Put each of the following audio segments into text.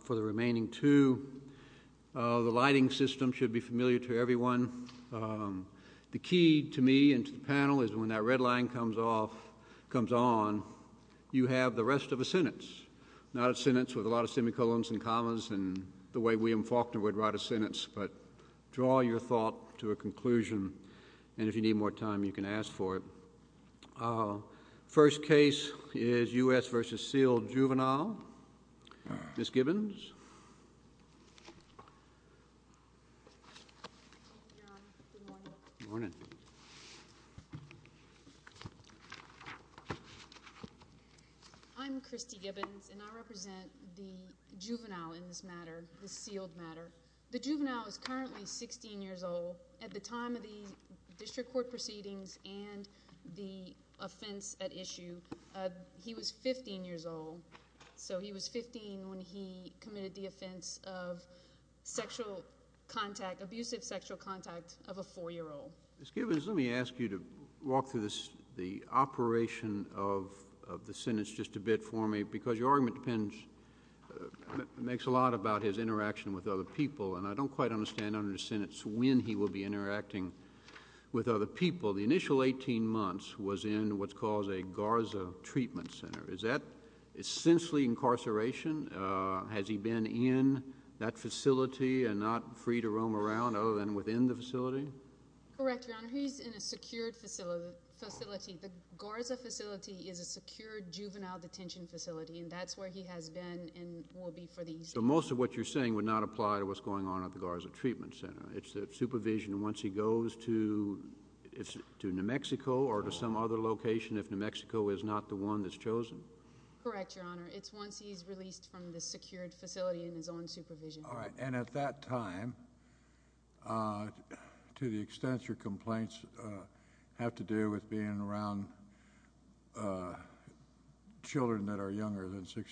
For the remaining two, the lighting system should be familiar to everyone. The key to me and to the panel is when that red line comes off, comes on, you have the rest of a sentence, not a sentence with a lot of semicolons and commas and the way William Faulkner would write a sentence, but draw your thought to a conclusion and if you need more time you can ask for it. First case is U.S. v. Sealed Juvenile. Ms. Gibbons. I'm Christy Gibbons and I represent the juvenile in this matter, the sealed matter. The juvenile is currently 16 years old. At the time of the district court proceedings and the offense at issue, he was 15 years old. So he was 15 when he committed the offense of sexual contact, abusive sexual contact of a four-year-old. Ms. Gibbons, let me ask you to walk through the operation of the sentence just a bit for me because your argument depends, makes a lot about his interaction with other people and I don't quite understand under the sentence when he will be interacting with other people. The initial 18 months was in what's called a Garza Treatment Center. Is that essentially incarceration? Has he been in that facility and not free to roam around other than within the facility? Correct, Your Honor. He's in a secured facility. The Garza facility is a secured juvenile detention facility and that's where he has been and will be for these. So most of what you're saying would not apply to what's going on at Garza Treatment Center. Correct, Your Honor. He's in a secured facility in his own supervision once he goes to New Mexico or to some other location if New Mexico is not the one that's chosen. Correct, Your Honor. It's once he's released from the secured facility in his own supervision. All right, and at that time, to the extent your complaints have to do with being around children that are younger than him,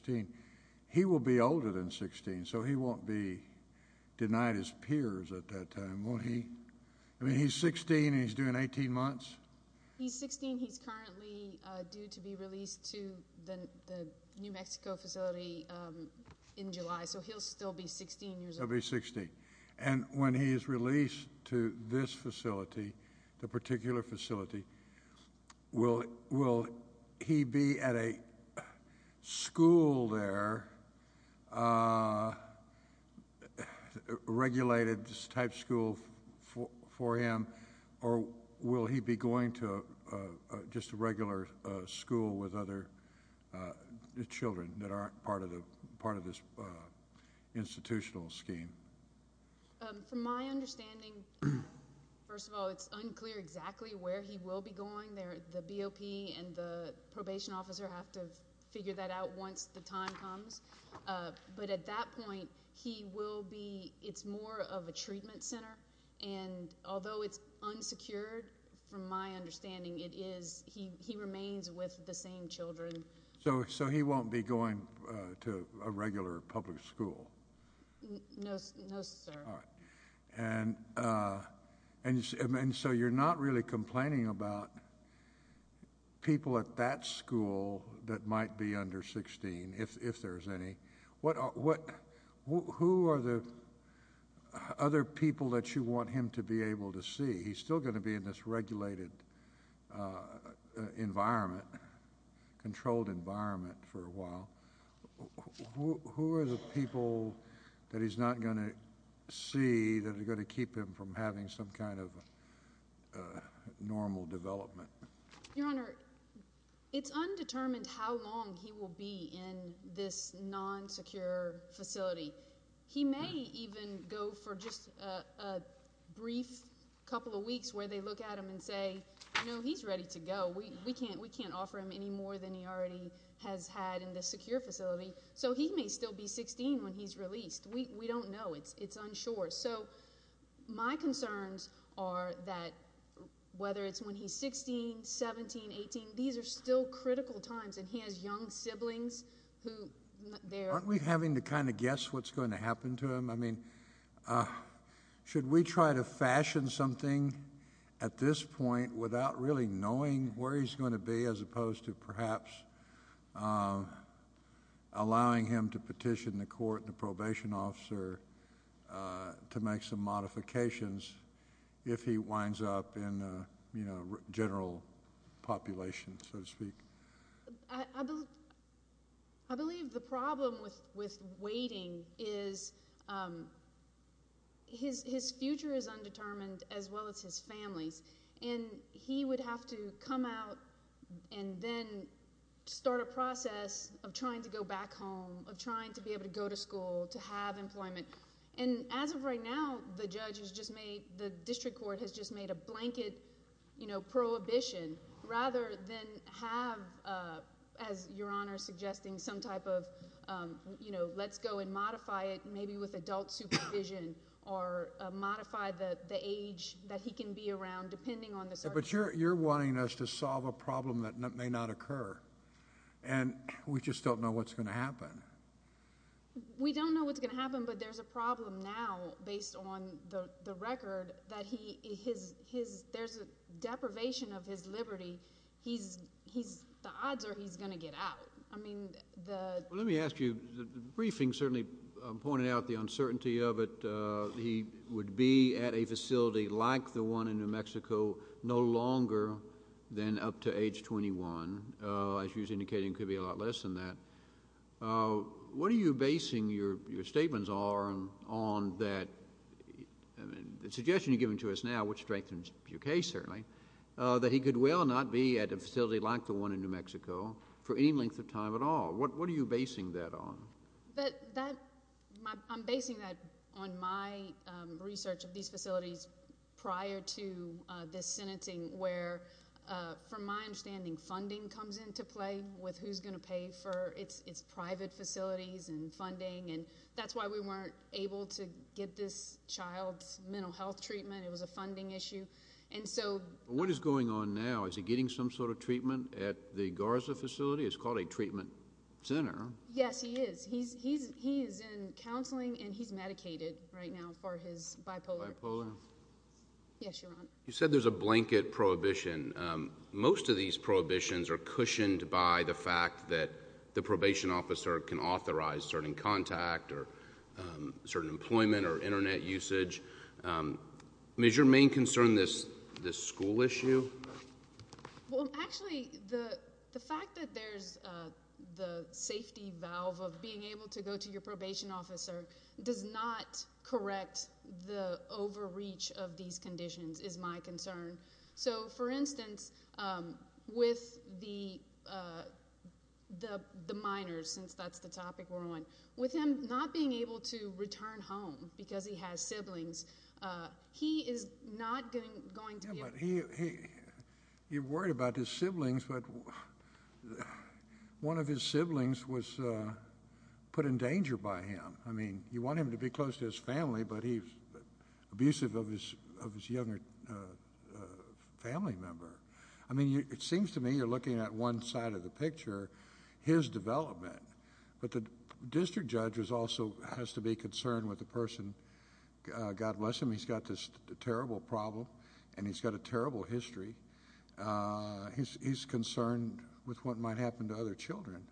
won't he? I mean, he's 16 and he's doing 18 months? He's 16. He's currently due to be released to the New Mexico facility in July, so he'll still be 16 years old. He'll be 16. And when he is released to this facility, the particular facility, will he be at a school there, a regulated type school for him, or will he be going to just a regular school with other children that aren't part of the part of this institutional scheme? From my understanding, first of all, it's not that he will be going. The BOP and the probation officer have to figure that out once the time comes, but at that point, he will be, it's more of a treatment center, and although it's unsecured, from my understanding, it is, he remains with the same children. So he won't be going to a regular public school? No, sir. And so you're not really complaining about people at that school that might be under 16, if there's any. What, who are the other people that you want him to be able to see? He's still going to be in this regulated environment, controlled environment for a while. Who are the people that he's not going to see that are going to keep him from having some kind of normal development? Your Honor, it's undetermined how long he will be in this non-secure facility. He may even go for just a brief couple of weeks where they look at him and say, you know, he's ready to go. We can't, we can't offer him any more than he already has had in this secure facility. So he may still be 16 when he's released. We don't know. It's, it's unsure. So my concerns are that whether it's when he's 16, 17, 18, these are still critical times, and he has young siblings who... Aren't we having to kind of guess what's going to happen to him? I mean, should we try to fashion something at this point without really knowing where he's going to be, as opposed to perhaps allowing him to petition the court and the probation officer to make some modifications if he winds up in, you know, his, his future is undetermined as well as his family's. And he would have to come out and then start a process of trying to go back home, of trying to be able to go to school, to have employment. And as of right now, the judge has just made, the district court has just made a blanket, you know, prohibition rather than have, as Your Honor is suggesting, some type of, you know, let's go and modify it or modify the, the age that he can be around depending on the circumstances. But you're, you're wanting us to solve a problem that may not occur, and we just don't know what's going to happen. We don't know what's going to happen, but there's a problem now based on the, the record that he, his, his, there's a deprivation of his liberty. He's, he's, the odds are he's going to get out. I mean, the... Well, let me ask you, the briefing certainly pointed out the uncertainty of it. He would be at a facility like the one in New Mexico no longer than up to age 21. As you're indicating, could be a lot less than that. What are you basing your, your statements are on, on that, the suggestion you're giving to us now, which strengthens your case certainly, that he could well not be at a facility like the one in New Mexico for any length of time at all. What, what are you basing that on? That, that, my, I'm basing that on my research of these facilities prior to this sentencing, where from my understanding, funding comes into play with who's going to pay for its, its private facilities and funding, and that's why we weren't able to get this child's mental health treatment. It was a funding issue, and so... What is going on now? Is he getting some sort of treatment at the Garza facility? It's called a treatment center. Yes, he is. He's, he's, he's in counseling, and he's medicated right now for his bipolar. Bipolar? Yes, Your Honor. You said there's a blanket prohibition. Most of these prohibitions are cushioned by the fact that the probation officer can authorize certain contact or certain employment or internet usage. Is your main concern this, this school issue? Well, actually, the, the minors, the safety valve of being able to go to your probation officer does not correct the overreach of these conditions, is my concern. So, for instance, with the, the, the minors, since that's the topic we're on, with him not being able to return home because he has siblings, he is not going to be... Yeah, but he, he, he worried about his siblings, but one of his siblings was put in danger by him. I mean, you want him to be close to his family, but he's abusive of his, of his younger family member. I mean, you, it seems to me you're looking at one side of the picture, his development, but the district judge is also, has to be concerned with the person, God bless him, he's got this terrible problem, and he's got a terrible history. He's, he's concerned with what might happen to other children.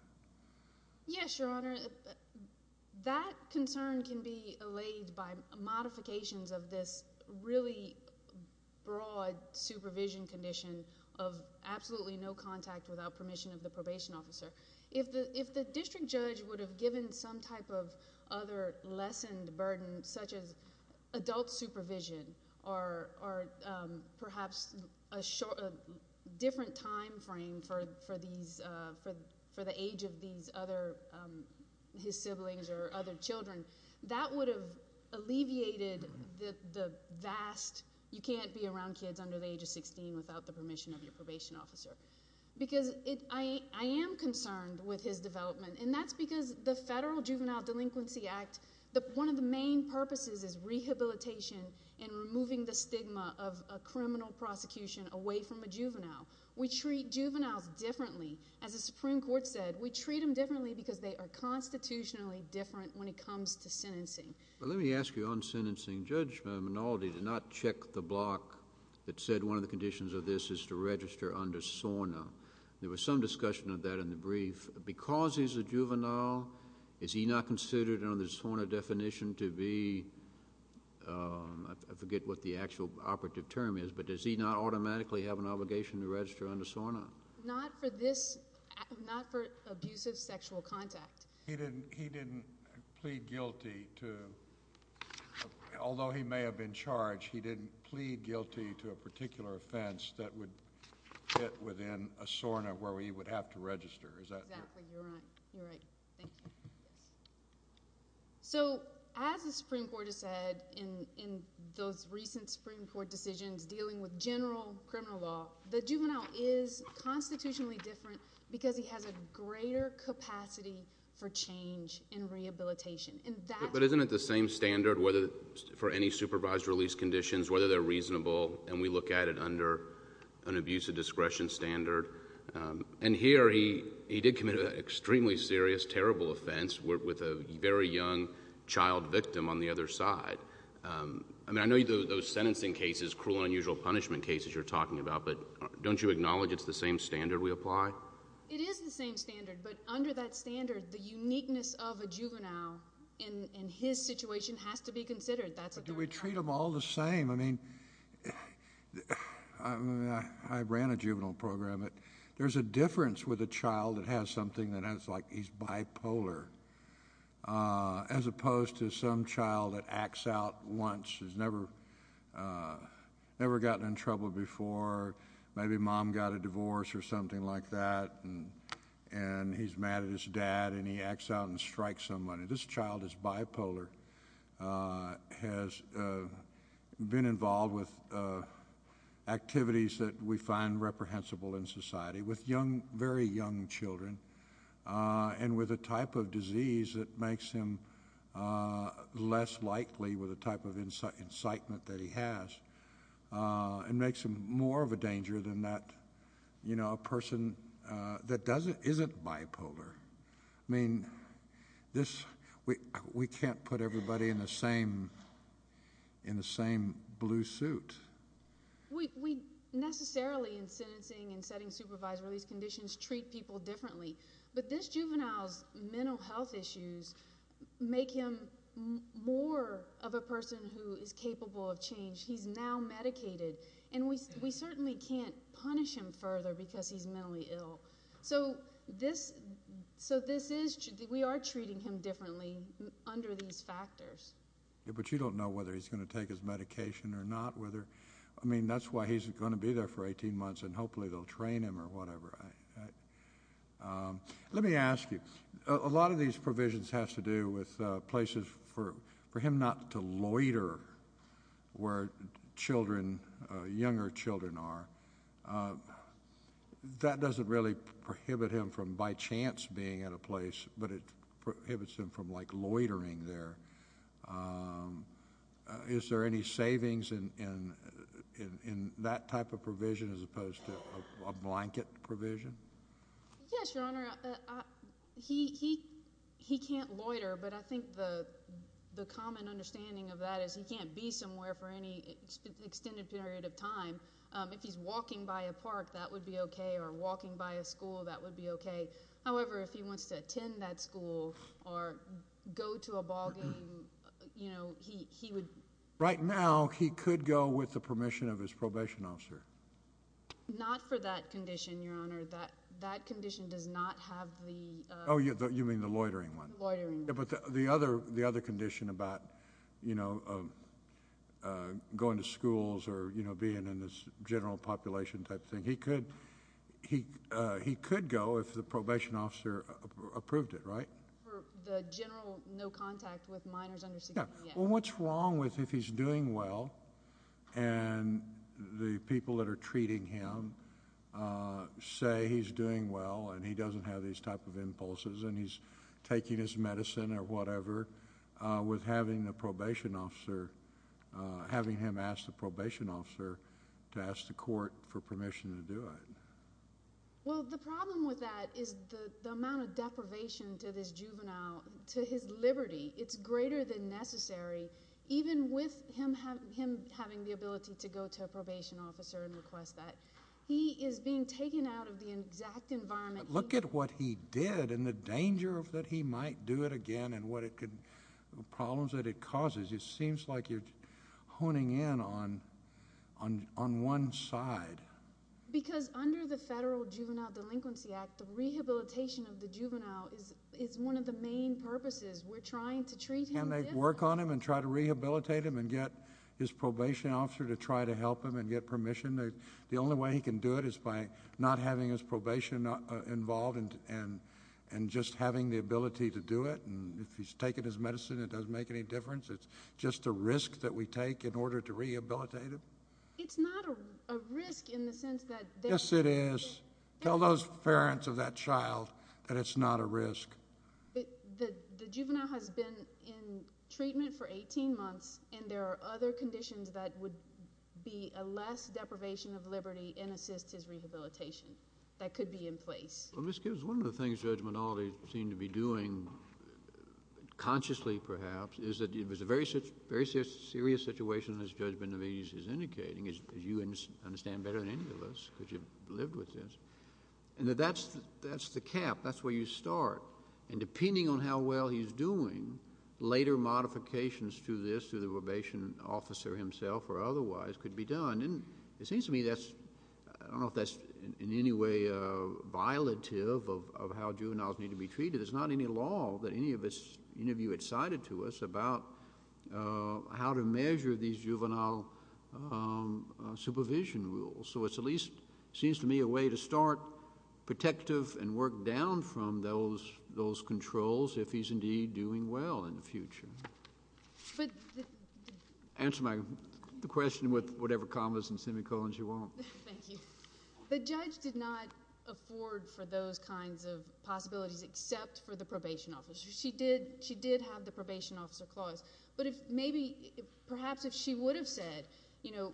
Yes, Your Honor, that concern can be allayed by modifications of this really broad supervision condition of absolutely no contact without permission of the probation officer. If the, if the district judge would have given some type of other lessened burden, such as adult supervision, or, or perhaps a short, a different time frame for, for these, for, for the age of these other, his siblings or other children, that would have alleviated the, the vast, you can't be around kids under the age of 16 without the permission of your probation officer, because it, I, I am concerned with his development, and that's because the Federal Juvenile Delinquency Act, the, one of the main purposes is rehabilitation and removing the stigma of a criminal prosecution away from a juvenile. We treat juveniles differently. As the Supreme Court said, we treat them differently because they are constitutionally different when it comes to sentencing. Let me ask you on sentencing, Judge Minaldi did not check the block that said one of the conditions of this is to register under SORNA. There was some discussion of that in the brief. Because he's a juvenile, is he not considered under the SORNA definition to be, I forget what the actual operative term is, but does he not automatically have an obligation to register under SORNA? Not for this, not for abusive sexual contact. He didn't, he didn't plead guilty to, although he may have been charged, he didn't plead guilty to a particular offense that would fit within a SORNA where he would have to register. So as the Supreme Court has said in those recent Supreme Court decisions dealing with general criminal law, the juvenile is constitutionally different because he has a greater capacity for change in rehabilitation. But isn't it the same standard whether, for any supervised release conditions, whether they're reasonable and we look at it under an SORNA? Here, he did commit an extremely serious, terrible offense with a very young child victim on the other side. I mean, I know those sentencing cases, cruel and unusual punishment cases you're talking about, but don't you acknowledge it's the same standard we apply? It is the same standard, but under that standard, the uniqueness of a juvenile in his situation has to be considered. That's what the right time is. But do we treat them all the same? I mean, I ran a juvenile program. There's a difference with a child that has something that is like he's bipolar, as opposed to some child that acts out once, has never gotten in trouble before. Maybe mom got a divorce or something like that, and he's mad at his dad, and he acts out and strikes somebody. This child is bipolar, has been involved with activities that we find reprehensible in society with young, very young children, and with a type of disease that makes him less likely, with a type of incitement that he has, and makes him more of a danger than that, you know, a person that doesn't, isn't this, we can't put everybody in the same, in the same blue suit. We necessarily, in sentencing and setting supervised release conditions, treat people differently, but this juvenile's mental health issues make him more of a person who is capable of change. He's now medicated, and we certainly can't punish him further because he's mentally ill. So this, so this is, we are treating him differently under these factors. But you don't know whether he's going to take his medication or not, whether, I mean, that's why he's going to be there for 18 months, and hopefully they'll train him or whatever. Let me ask you, a lot of these provisions has to do with places for, for him not to loiter where children, younger children are. That doesn't really prohibit him from, by chance, being at a place, but it prohibits him from like loitering there. Is there any savings in, in, in that type of provision as opposed to a blanket provision? Yes, Your Honor. He, he, he can't loiter, but I think the, the common understanding of that is he can't be somewhere for any extended period of time. If he's walking by a park, that would be okay, or walking by a school, that would be okay. However, if he wants to attend that school or go to a ball game, you know, he, he would... Right now, he could go with the permission of his probation officer. Not for that condition, Your Honor. That, that condition does not have the... Oh, you mean the loitering one? Loitering. Yeah, but the other, the other condition about, you know, going to schools or, you know, being in this general population type thing. He could, he, he could go if the probation officer approved it, right? For the general no contact with minors under 16? Yeah. Well, what's wrong with if he's doing well and the people that are treating him say he's doing well, and he doesn't have these type of impulses, and he's taking his medicine or whatever with having the probation officer, having him ask the probation officer to ask the court for permission to do it? Well, the problem with that is the, the amount of deprivation to this juvenile, to his liberty, it's greater than necessary, even with him having, him having the ability to go to a probation officer and request that. He is being taken out of the exact environment... Look at what he did and the danger of that he might do it again and what it could, the problems that it causes. It seems like you're honing in on, on, on one side. Because under the Federal Juvenile Delinquency Act, the rehabilitation of the juvenile is, is one of the main purposes. We're trying to treat him... Can they work on him and try to rehabilitate him and get his probation officer to try to help him and get permission? The only way he can do it is by not having his probation involved and, and, and just having the ability to do it, and if he's taken his medicine, it doesn't make any difference. It's just a risk that we take in order to rehabilitate him. It's not a risk in the sense that... Yes, it is. Tell those parents of that child that it's not a risk. The, the juvenile has been in treatment for 18 months and there are other conditions that would be a less deprivation of liberty and assist his rehabilitation that could be in place. Well, Ms. Gibbs, one of the things Judge Consciously, perhaps, is that it was a very serious, very serious situation, as Judge Benavides is indicating, as you understand better than any of us, because you've lived with this, and that that's, that's the cap. That's where you start. And depending on how well he's doing, later modifications to this, to the probation officer himself or otherwise, could be done. And it seems to me that's, I don't know if that's in any way violative of how juveniles need to be supervised. I don't know if it's, any of you excited to us about how to measure these juvenile supervision rules. So it's at least, seems to me, a way to start protective and work down from those, those controls if he's indeed doing well in the future. But... Answer my, the question with whatever commas and semicolons you want. Thank you. The judge did not afford for those kinds of possibilities except for the probation officer. She did, she did have the probation officer clause. But if maybe, perhaps if she would have said, you know,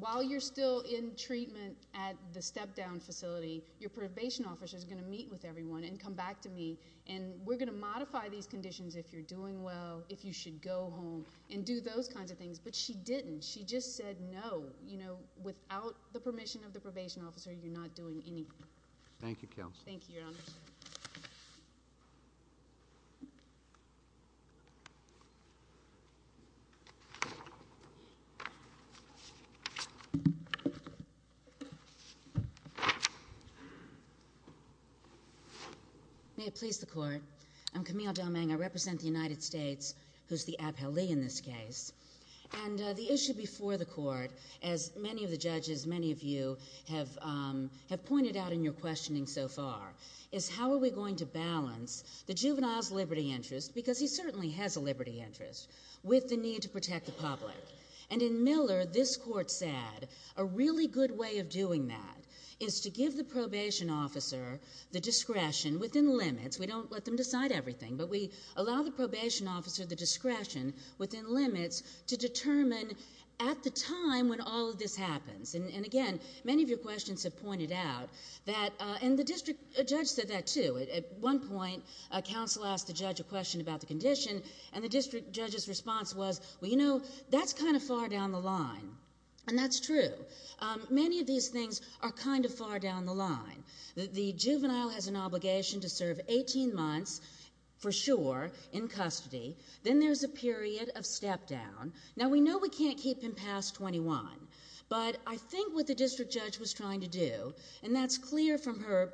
while you're still in treatment at the step-down facility, your probation officer is going to meet with everyone and come back to me, and we're going to modify these conditions if you're doing well, if you should go home, and do those kinds of things. But she didn't. She just said, no, you know, without the permission of the probation officer, you're not doing any... Thank you, Counsel. Thank you, Your Honor. May it please the Court. I'm Camille Del Meng. I represent the United States, who's the appellee in this case. And the issue before the Court, as many of the judges, as many of you have pointed out in your questioning so far, is how are we going to balance the juvenile's liberty interest, because he certainly has a liberty interest, with the need to protect the public. And in Miller, this Court said a really good way of doing that is to give the probation officer the discretion within limits. We don't let them decide everything, but we allow the probation officer the discretion within limits to determine at the time when all of this happens. And again, many of your questions have pointed out that... And the district judge said that, too. At one point, a counsel asked the judge a question about the condition, and the district judge's response was, well, you know, that's kind of far down the line. And that's true. Many of these things are kind of far down the line. The juvenile has an obligation to serve 18 months, for sure, in custody. Then there's a period of step-down. Now, we know we can't keep him past 21, but I think what the district judge was trying to do, and that's clear from her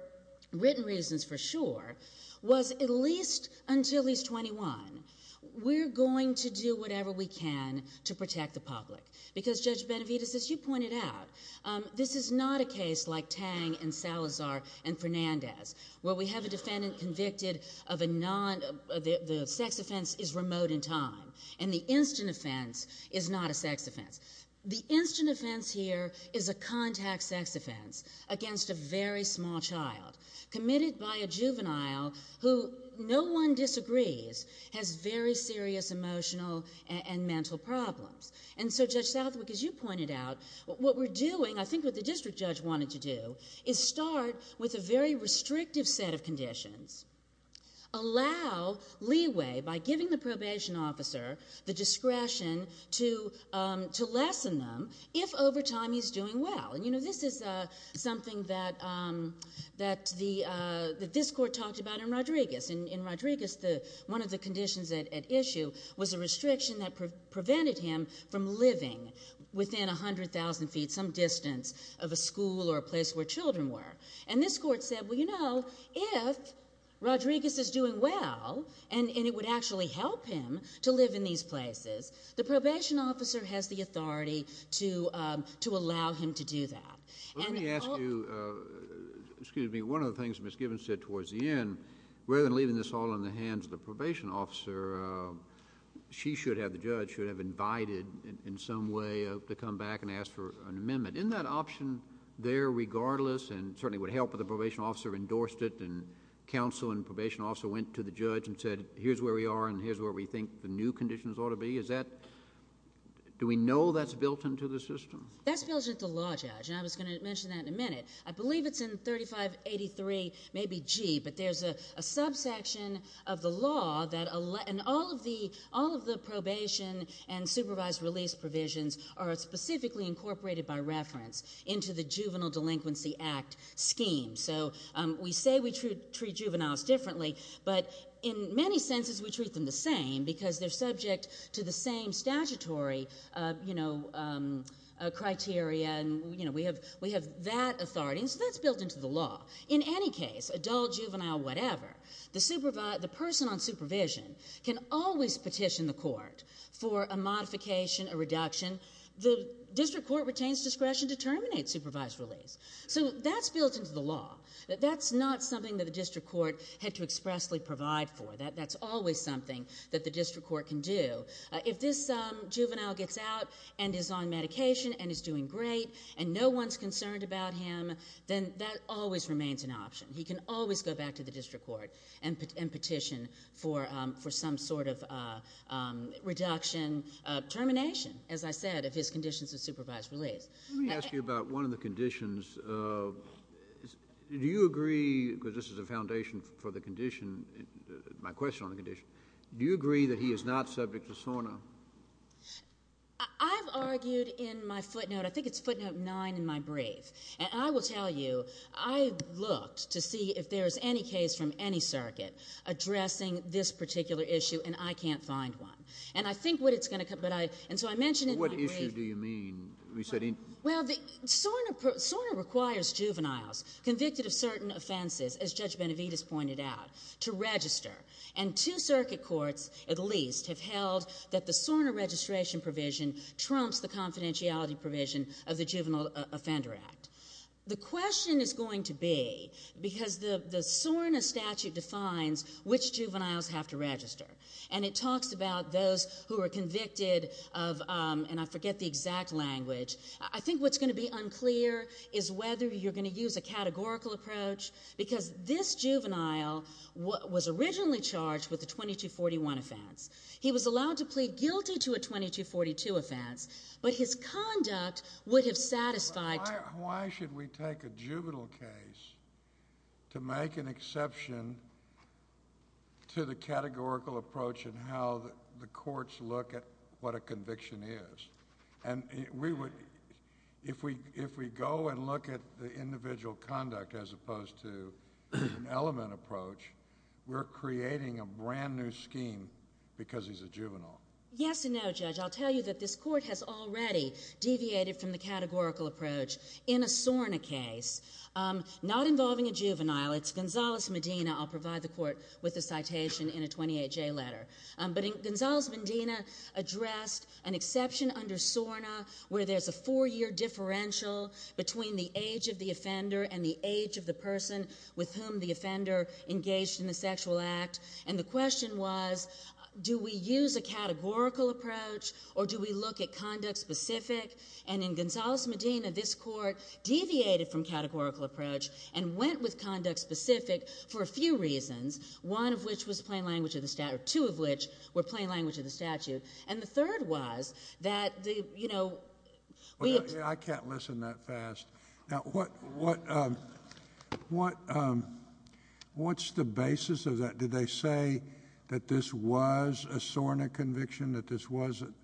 written reasons, for sure, was at least until he's 21, we're going to do whatever we can to protect the public. Because, Judge Benavides, as you pointed out, this is not a case like Tang and Salazar and Fernandez, where we have a defendant convicted of a non... the sex offense is remote in time, and the instant offense is not a sex offense. The instant offense here is a contact sex offense against a very small child, committed by a juvenile who, no one disagrees, has very serious emotional and mental problems. And so, Judge Southwick, as you pointed out, what we're doing, I think what the district judge wanted to do, is start with a very restrictive set of conditions. Allow leeway by giving the probation officer the discretion to lessen them if, over time, he's doing well. And, you know, this is something that this court talked about in Rodriguez. In Rodriguez, one of the conditions at issue was a restriction that prevented him from living within 100,000 feet, some distance of a school or a place where children were. And this court said, well, you know, this is doing well, and it would actually help him to live in these places. The probation officer has the authority to allow him to do that. Let me ask you... excuse me. One of the things Ms. Gibbons said towards the end, rather than leaving this all in the hands of the probation officer, she should have, the judge, should have invited, in some way, to come back and ask for an amendment. Isn't that option there, regardless, and certainly would have helped if the probation officer endorsed it and counsel and probation officer went to the judge and said, here's where we are and here's where we think the new conditions ought to be? Is that... do we know that's built into the system? That's built into the law, Judge, and I was going to mention that in a minute. I believe it's in 3583, maybe G, but there's a subsection of the law that... and all of the probation and supervised release provisions are specifically incorporated by reference into the Juvenile Delinquency Act scheme. So we say we treat juveniles differently, but in many senses we treat them the same because they're subject to the same statutory criteria and we have that authority. So that's built into the law. In any case, adult, juvenile, whatever, the person on supervision can always petition the court for a modification, a modification, and the district court retains discretion to terminate supervised release. So that's built into the law. That's not something that the district court had to expressly provide for. That's always something that the district court can do. If this juvenile gets out and is on medication and is doing great and no one's concerned about him, then that always remains an option. He can always go back to the district court and petition for some sort of reduction, termination, as I said, of his conditions of supervised release. Let me ask you about one of the conditions. Do you agree, because this is a foundation for the condition, my question on the condition, do you agree that he is not subject to SORNA? I've argued in my footnote, I think it's footnote 9 in my brief, and I will tell you I looked to see if there's any case from any circuit addressing this particular issue, and I can't find one. And I think what it's going to come to, and so I mentioned in my brief. What issue do you mean? Well, SORNA requires juveniles convicted of certain offenses, as Judge Benavides pointed out, to register. And two circuit courts, at least, have held that the SORNA registration provision trumps the confidentiality provision of the Juvenile Offender Act. The question is going to be, because the SORNA statute defines which juveniles have to register, and it talks about those who are convicted of, and I forget the exact language, I think what's going to be unclear is whether you're going to use a categorical approach, because this juvenile was originally charged with the 2241 offense. He was allowed to plead guilty to a 2242 offense, but his conduct would have satisfied... Why should we take a juvenile case to make an exception to the categorical approach and how the courts look at what a conviction is? And if we go and look at the individual conduct as opposed to an element approach, we're creating a brand new scheme because he's a juvenile. Yes and no, Judge. I'll tell you that this is not involving a juvenile. It's Gonzales Medina. I'll provide the court with the citation in a 28J letter. But Gonzales Medina addressed an exception under SORNA where there's a four-year differential between the age of the offender and the age of the person with whom the offender engaged in the sexual act. And the question was, do we use a categorical approach or do we look at conduct specific? And in Gonzales Medina, this court deviated from categorical approach and went with conduct specific for a few reasons, one of which was plain language of the statute, two of which were plain language of the statute, and the third was that the, you know... I can't listen that fast. Now what, what, what, what's the basis of that? Did they say that this was a SORNA conviction, that this wasn't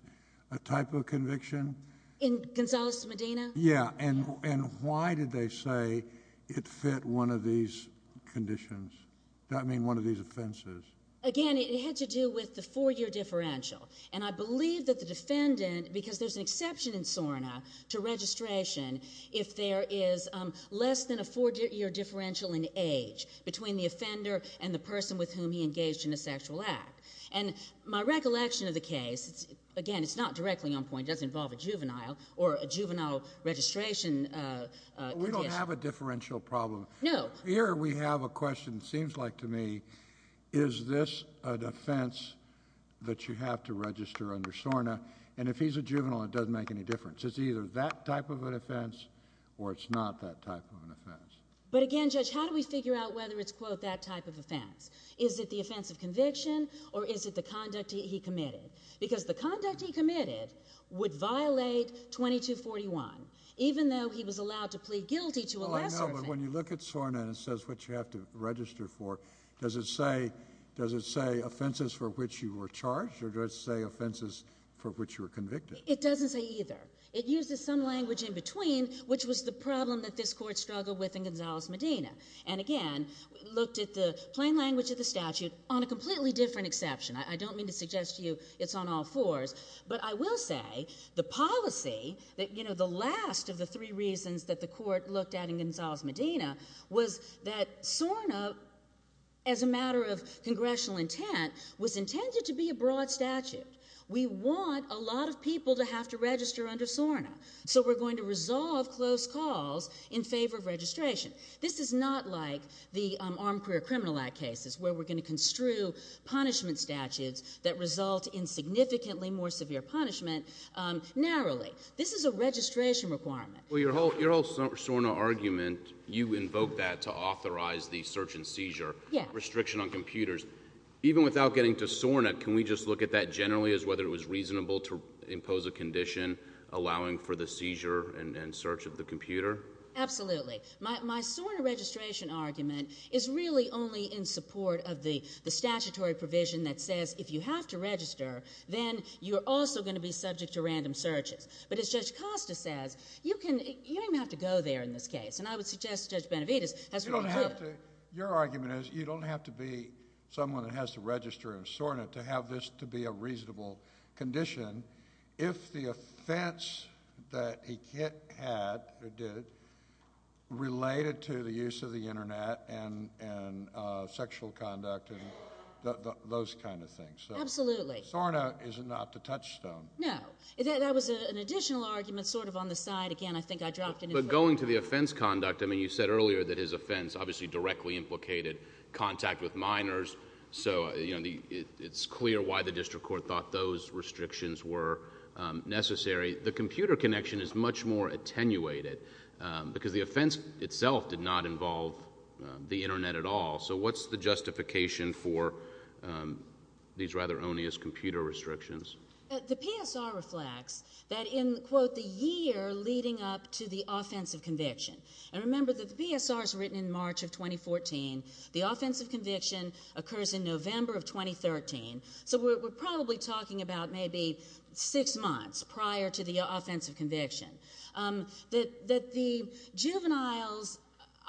a type of conviction? In Gonzales Medina? Yeah. And why did they say it fit one of these conditions? I mean, one of these offenses? Again, it had to do with the four-year differential. And I believe that the defendant, because there's an exception in SORNA to registration, if there is less than a four-year differential in age between the offender and the person with whom he engaged in a sexual act. And my recollection of the case, it's, again, it's not directly on point. It doesn't involve a juvenile or a juvenile registration. We don't have a differential problem. No. Here we have a question, seems like to me, is this an offense that you have to register under SORNA? And if he's a juvenile, it doesn't make any difference. It's either that type of an offense or it's not that type of an offense. But again, Judge, how do we figure out whether it's, quote, that type of offense? Is it the offense of conviction or is it the conduct he committed? Because the conduct he committed would violate 2241, even though he was allowed to plead guilty to a lesser offense. Oh, I know, but when you look at SORNA and it says what you have to register for, does it say, does it say offenses for which you were charged or does it say offenses for which you were convicted? It doesn't say either. It uses some language in between, which was the problem that this Court struggled with in Gonzales-Medina. And again, looked at the plain language of the statute on a completely different exception. I don't mean to suggest to you it's on all fours, but I will say the policy that, you know, the last of the three reasons that the Court looked at in Gonzales-Medina was that SORNA, as a matter of congressional intent, was intended to be a broad statute. We want a lot of people to have to register under SORNA, so we're going to resolve close calls in favor of registration. This is not like the Armed Career Criminal Act cases, where we're going to construe punishment statutes that result in significantly more severe punishment narrowly. This is a registration requirement. Well, your whole SORNA argument, you invoked that to authorize the search and seizure restriction on computers. Even without getting to SORNA, can we just look at that generally as whether it was reasonable to impose a condition allowing for the seizure and search of the computer? Absolutely. My SORNA registration argument is really only in support of the statutory provision that says if you have to register, then you're also going to be subject to random searches. But as Judge Costa says, you can, you don't even have to go there in this case. And I would suggest to Judge Benavides, that's really good. You don't have to, your argument is, you don't have to be someone that has to register in SORNA to have this to be a reasonable condition if the offense that he had, or did, related to the use of the Internet and sexual conduct and those kind of things. Absolutely. SORNA is not to touch stone. No. That was an additional argument sort of on the side. Again, I think I dropped it. But going to the offense conduct, I mean, you said earlier that his offense obviously directly implicated contact with minors. So, you know, it's clear why the district court thought those restrictions were necessary. The computer connection is much more attenuated because the offense itself did not involve the Internet at all. So what's the justification for these rather onious computer restrictions? The PSR reflects that in quote, the year leading up to the offensive conviction. And remember that the PSR is written in March of 2014. The offensive conviction occurs in November of 2013. So we're probably talking about maybe six months prior to the offensive conviction. That the juvenile's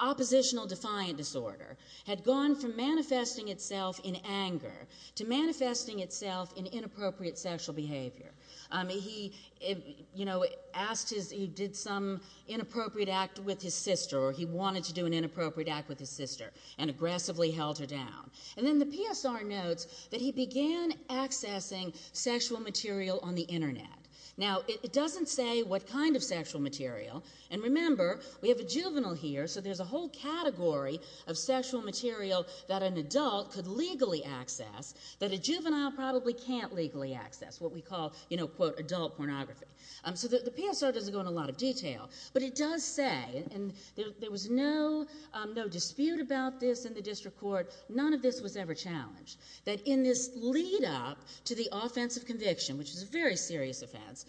oppositional defiant disorder had gone from manifesting itself in anger to manifesting itself in inappropriate sexual behavior. He, you know, asked his, he did some inappropriate act with his sister or he wanted to do an inappropriate act with his sister and aggressively held her down. And then the PSR notes that he began accessing sexual material on the Internet. Now, it doesn't say what kind of sexual material. And remember, we have a juvenile here. So there's a whole category of sexual material that an adult could legally access that a juvenile probably can't legally access. What we call, you know, quote, adult pornography. So the PSR doesn't go into a lot of detail. But it does say, and there was no, no dispute about this in the district court. None of this was ever challenged. That in this lead up to the offensive conviction, which is a very serious offense,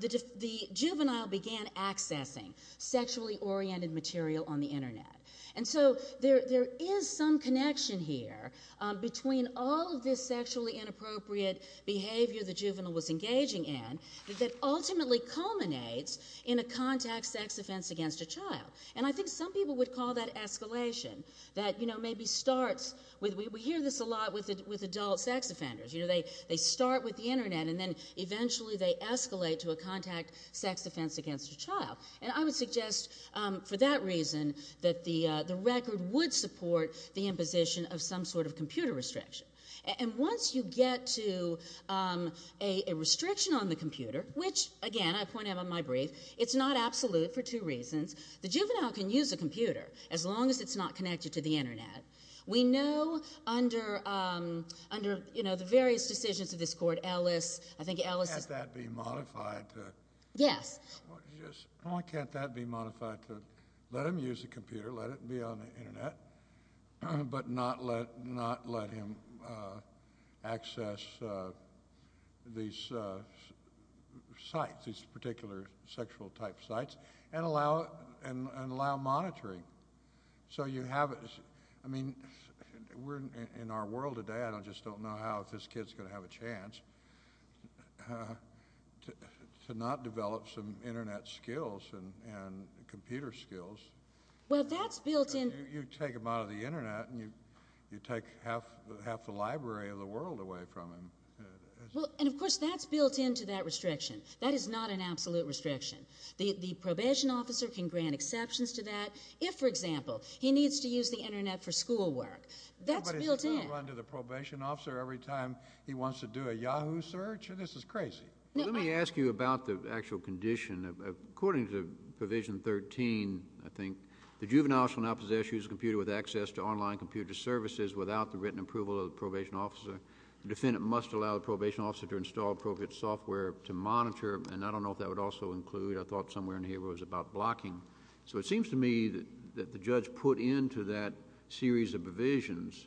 the juvenile began accessing sexually oriented material on the Internet. And so there, there is some connection here between all of this sexually inappropriate behavior the juvenile was engaging in that ultimately culminates in a contact sex offense against a child. And I think some people would call that escalation that, you know, maybe starts with, we hear this a lot with, with adult sex offenders. You know, they, they start with the Internet and then eventually they escalate to a contact sex offense against a child. And I would suggest for that reason that the, the record would support the imposition of some sort of computer restriction. And once you get to a, a restriction on the computer, which again, I point out on my brief, it's not absolute for two reasons. The juvenile can use a computer as long as it's not connected to the Internet. We know under, under, you know, the various decisions of this court, Ellis, I think Ellis. Why can't that be modified to. Yes. Why can't that be modified to let him use the computer, let it be on the Internet, but not let, not let him access these sites, these particular sexual type sites and allow, and, and allow monitoring. So you have, I mean, we're in our world today, I don't, just don't know how if this kid's going to have a chance to, to not develop some Internet skills and, and computer skills. Well, that's built in. You take him out of the Internet and you, you take half, half the library of the world away from him. Well, and of course that's built into that restriction. That is not an absolute restriction. The, the probation officer can grant exceptions to that. If, for example, he needs to use the Internet for schoolwork, that's built in. But he's still going to run to the probation officer every time he wants to do a Yahoo search? This is crazy. Let me ask you about the actual condition. According to Provision 13, I think, the juvenile shall now possess a computer with access to online computer services without the written approval of the probation officer. The defendant must allow the probation officer to install appropriate software to monitor, and I don't know if that would also include, I thought somewhere in here it was about blocking. So it seems to me that, that the judge put into that series of provisions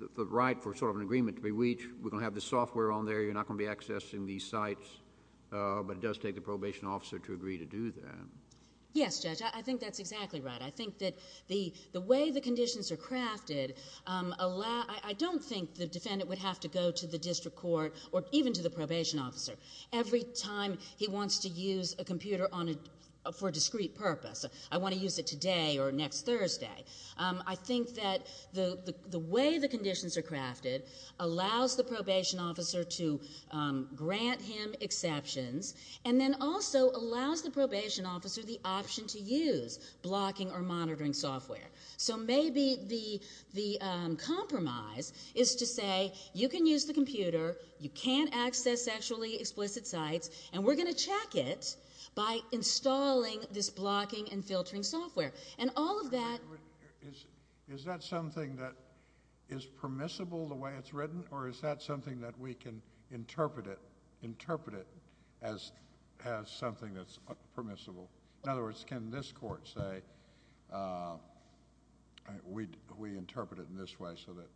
the, the right for sort of an agreement to be, we each, we're going to have this software on there, you're not going to be accessing these sites, but it does take the probation officer to agree to do that. Yes, Judge. I, I think that's exactly right. I think that the, the way the conditions are crafted allow, I, I don't think the defendant would have to go to the district court or even to the probation officer. Every time he wants to use a computer on a, for a discreet purpose. I want to use it today or next Thursday. I think that the, the way the conditions are crafted allows the probation officer to grant him exceptions, and then also allows the probation officer the option to use blocking or monitoring software. So maybe the, the compromise is to say, you can use the computer, you can't access sexually explicit sites, and we're going to check it by installing this blocking and filtering software. And all of that. Is, is that something that is permissible the way it's written, or is that something that we can interpret it, interpret it as, as something that's permissible? In other words, can this court say, we, we interpret it in this way so that,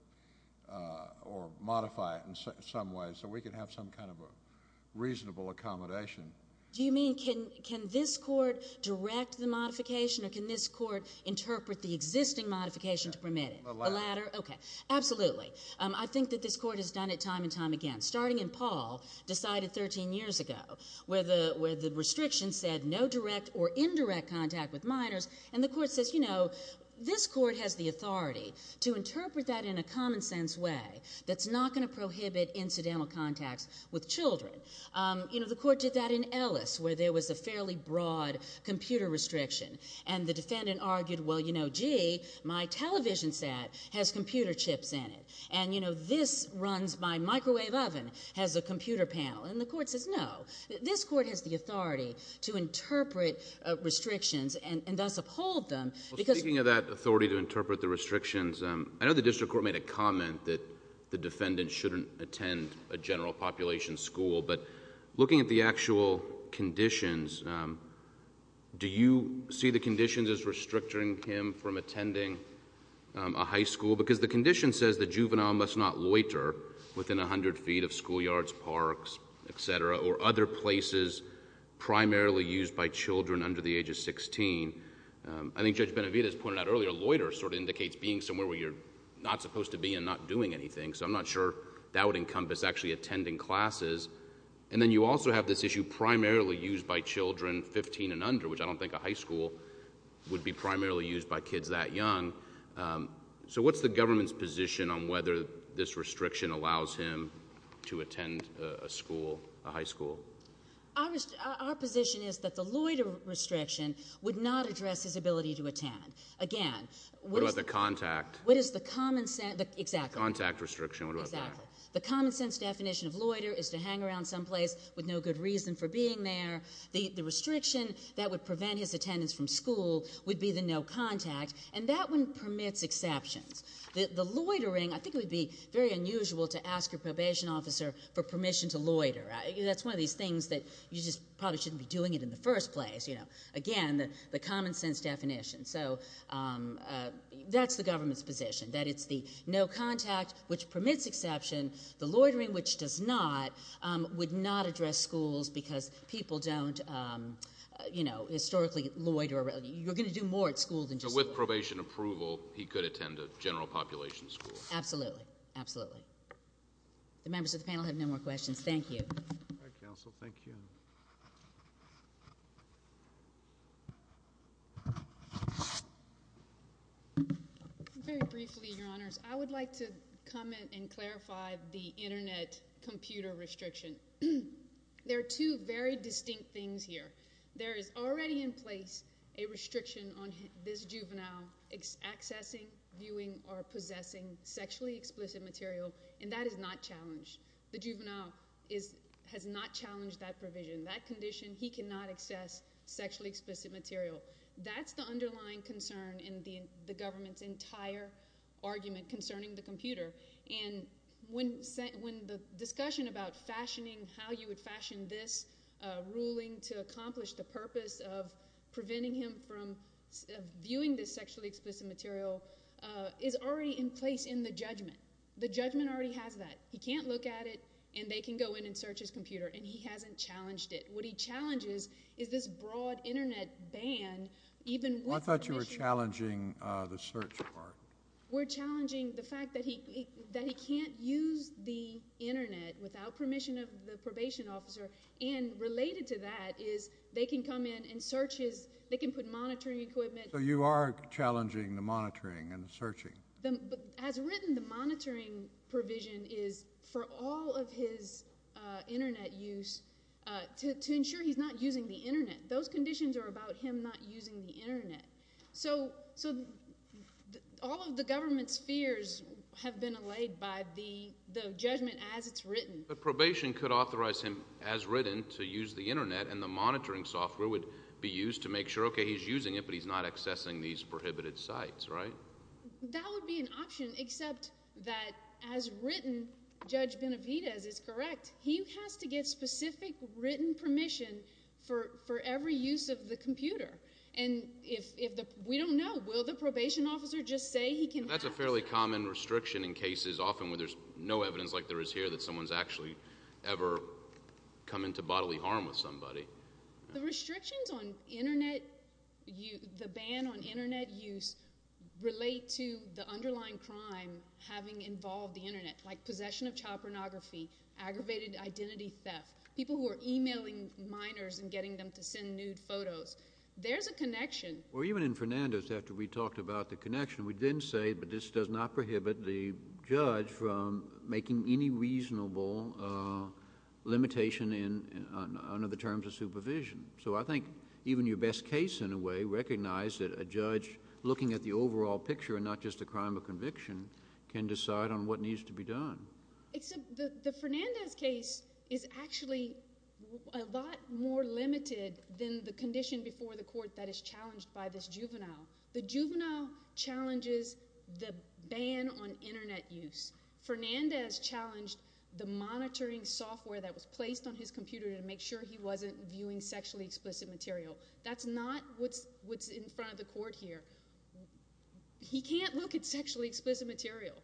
or modify it in some way so we can have some kind of a reasonable accommodation? Do you mean, can, can this court direct the modification, or can this court interpret the existing modification to permit it? The latter. Okay. Absolutely. I think that this court has done it time and time again. Starting in Paul, decided 13 years ago, where the, where the restriction said no direct or indirect contact with minors. And the court says, you know, this court has the authority to interpret that in a common sense way that's not going to prohibit incidental contacts with children. You know, the court did that in Ellis, where there was a fairly broad computer restriction. And the defendant argued, well, you know, gee, my television set has computer chips in it. And, you know, this runs my microwave oven, has a computer panel. And the court says no. This court has the authority to interpret restrictions and, and thus uphold them. Well, speaking of that authority to interpret the restrictions, I know the district court made a comment that the defendant shouldn't attend a general population school. But looking at the actual conditions, do you see the conditions as restricting him from attending a high school? Because the condition says the juvenile must not loiter within 100 feet of schoolyards, parks, etc., or other places primarily used by children under the age of 16. I think Judge Benavidez pointed out earlier, loiter sort of indicates being somewhere where you're not supposed to be and not doing anything. So I'm not sure that would encompass actually attending classes. And then you also have this issue primarily used by children 15 and under, which I don't think a high school would be primarily used by kids that young. So what's the government's position on whether this restriction allows him to attend a school, a high school? Our position is that the loiter restriction would not address his ability to attend. Again, what is the common sense? Exactly. Contact restriction. Exactly. The common sense definition of loiter is to hang around someplace with no good reason for being there. The restriction that would prevent his attendance from school would be the no contact. And that one permits exceptions. The loitering, I think it would be very unusual to ask your probation officer for permission to loiter. That's one of these things that you just probably shouldn't be doing it in the first place. Again, the common sense definition. So that's the government's position, that it's the no contact, which permits exception. The loitering, which does not, would not address schools because people don't historically loiter. You're going to do more at school than just loiter. So with probation approval, he could attend a general population school. Absolutely. Absolutely. The members of the panel have no more questions. Thank you. All right, counsel. Thank you. Very briefly, your honors, I would like to comment and clarify the Internet computer restriction. There are two very distinct things here. There is already in place a restriction on this juvenile accessing, viewing, or possessing sexually explicit material, and that is not challenged. The juvenile has not challenged that provision. That condition, he cannot access sexually explicit material. That's the underlying concern in the government's entire argument concerning the computer. And when the discussion about fashioning, how you would fashion this ruling to accomplish the purpose of preventing him from viewing this sexually explicit material, is already in place in the judgment. The judgment already has that. He can't look at it, and they can go in and search his computer. And he hasn't challenged it. What he challenges is this broad Internet ban, even with permission. I thought you were challenging the search part. We're challenging the fact that he can't use the Internet without permission of the probation officer. And related to that is they can come in and search his, they can put monitoring equipment. So you are challenging the monitoring and the searching. As written, the monitoring provision is for all of his Internet use to ensure he's not using the Internet. So all of the government's fears have been allayed by the judgment as it's written. But probation could authorize him as written to use the Internet, and the monitoring software would be used to make sure, okay, he's using it, but he's not accessing these prohibited sites, right? That would be an option, except that as written, Judge Benavidez is correct. He has to get specific written permission for every use of the computer. And if the, we don't know. Will the probation officer just say he can access it? That's a fairly common restriction in cases often where there's no evidence like there is here that someone's actually ever come into bodily harm with somebody. The restrictions on Internet, the ban on Internet use relate to the underlying crime having involved the Internet, like possession of child pornography, aggravated identity theft, people who are emailing minors and getting them to send nude photos. There's a connection. Well, even in Fernandez, after we talked about the connection, we didn't say, but this does not prohibit the judge from making any reasonable limitation under the terms of supervision. So I think even your best case, in a way, recognized that a judge, looking at the overall picture and not just the crime of conviction, can decide on what needs to be done. Except the Fernandez case is actually a lot more limited than the condition before the court that is challenged by this juvenile. The juvenile challenges the ban on Internet use. Fernandez challenged the monitoring software that was placed on his computer to make sure he wasn't viewing sexually explicit material. That's not what's in front of the court here. He can't look at sexually explicit material.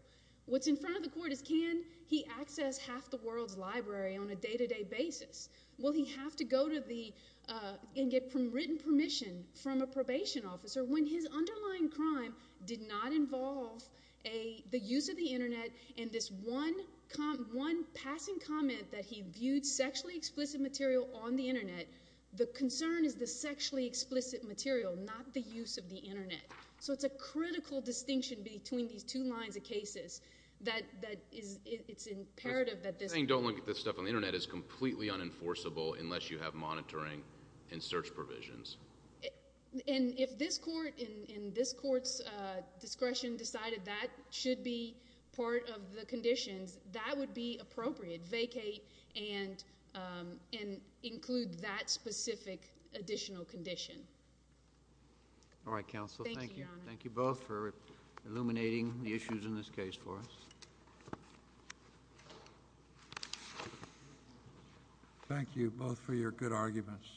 What's in front of the court is can he access half the world's library on a day-to-day basis? Will he have to go to the and get written permission from a probation officer when his underlying crime did not involve the use of the Internet and this one passing comment that he viewed sexually explicit material on the Internet. The concern is the sexually explicit material, not the use of the Internet. So it's a critical distinction between these two lines of cases that it's imperative that this… Saying don't look at this stuff on the Internet is completely unenforceable unless you have monitoring and search provisions. And if this court and this court's discretion decided that should be part of the conditions, that would be appropriate. Vacate and include that specific additional condition. All right, Counsel. Thank you. Thank you, Your Honor. Thank you both for illuminating the issues in this case for us. Thank you both for your good arguments.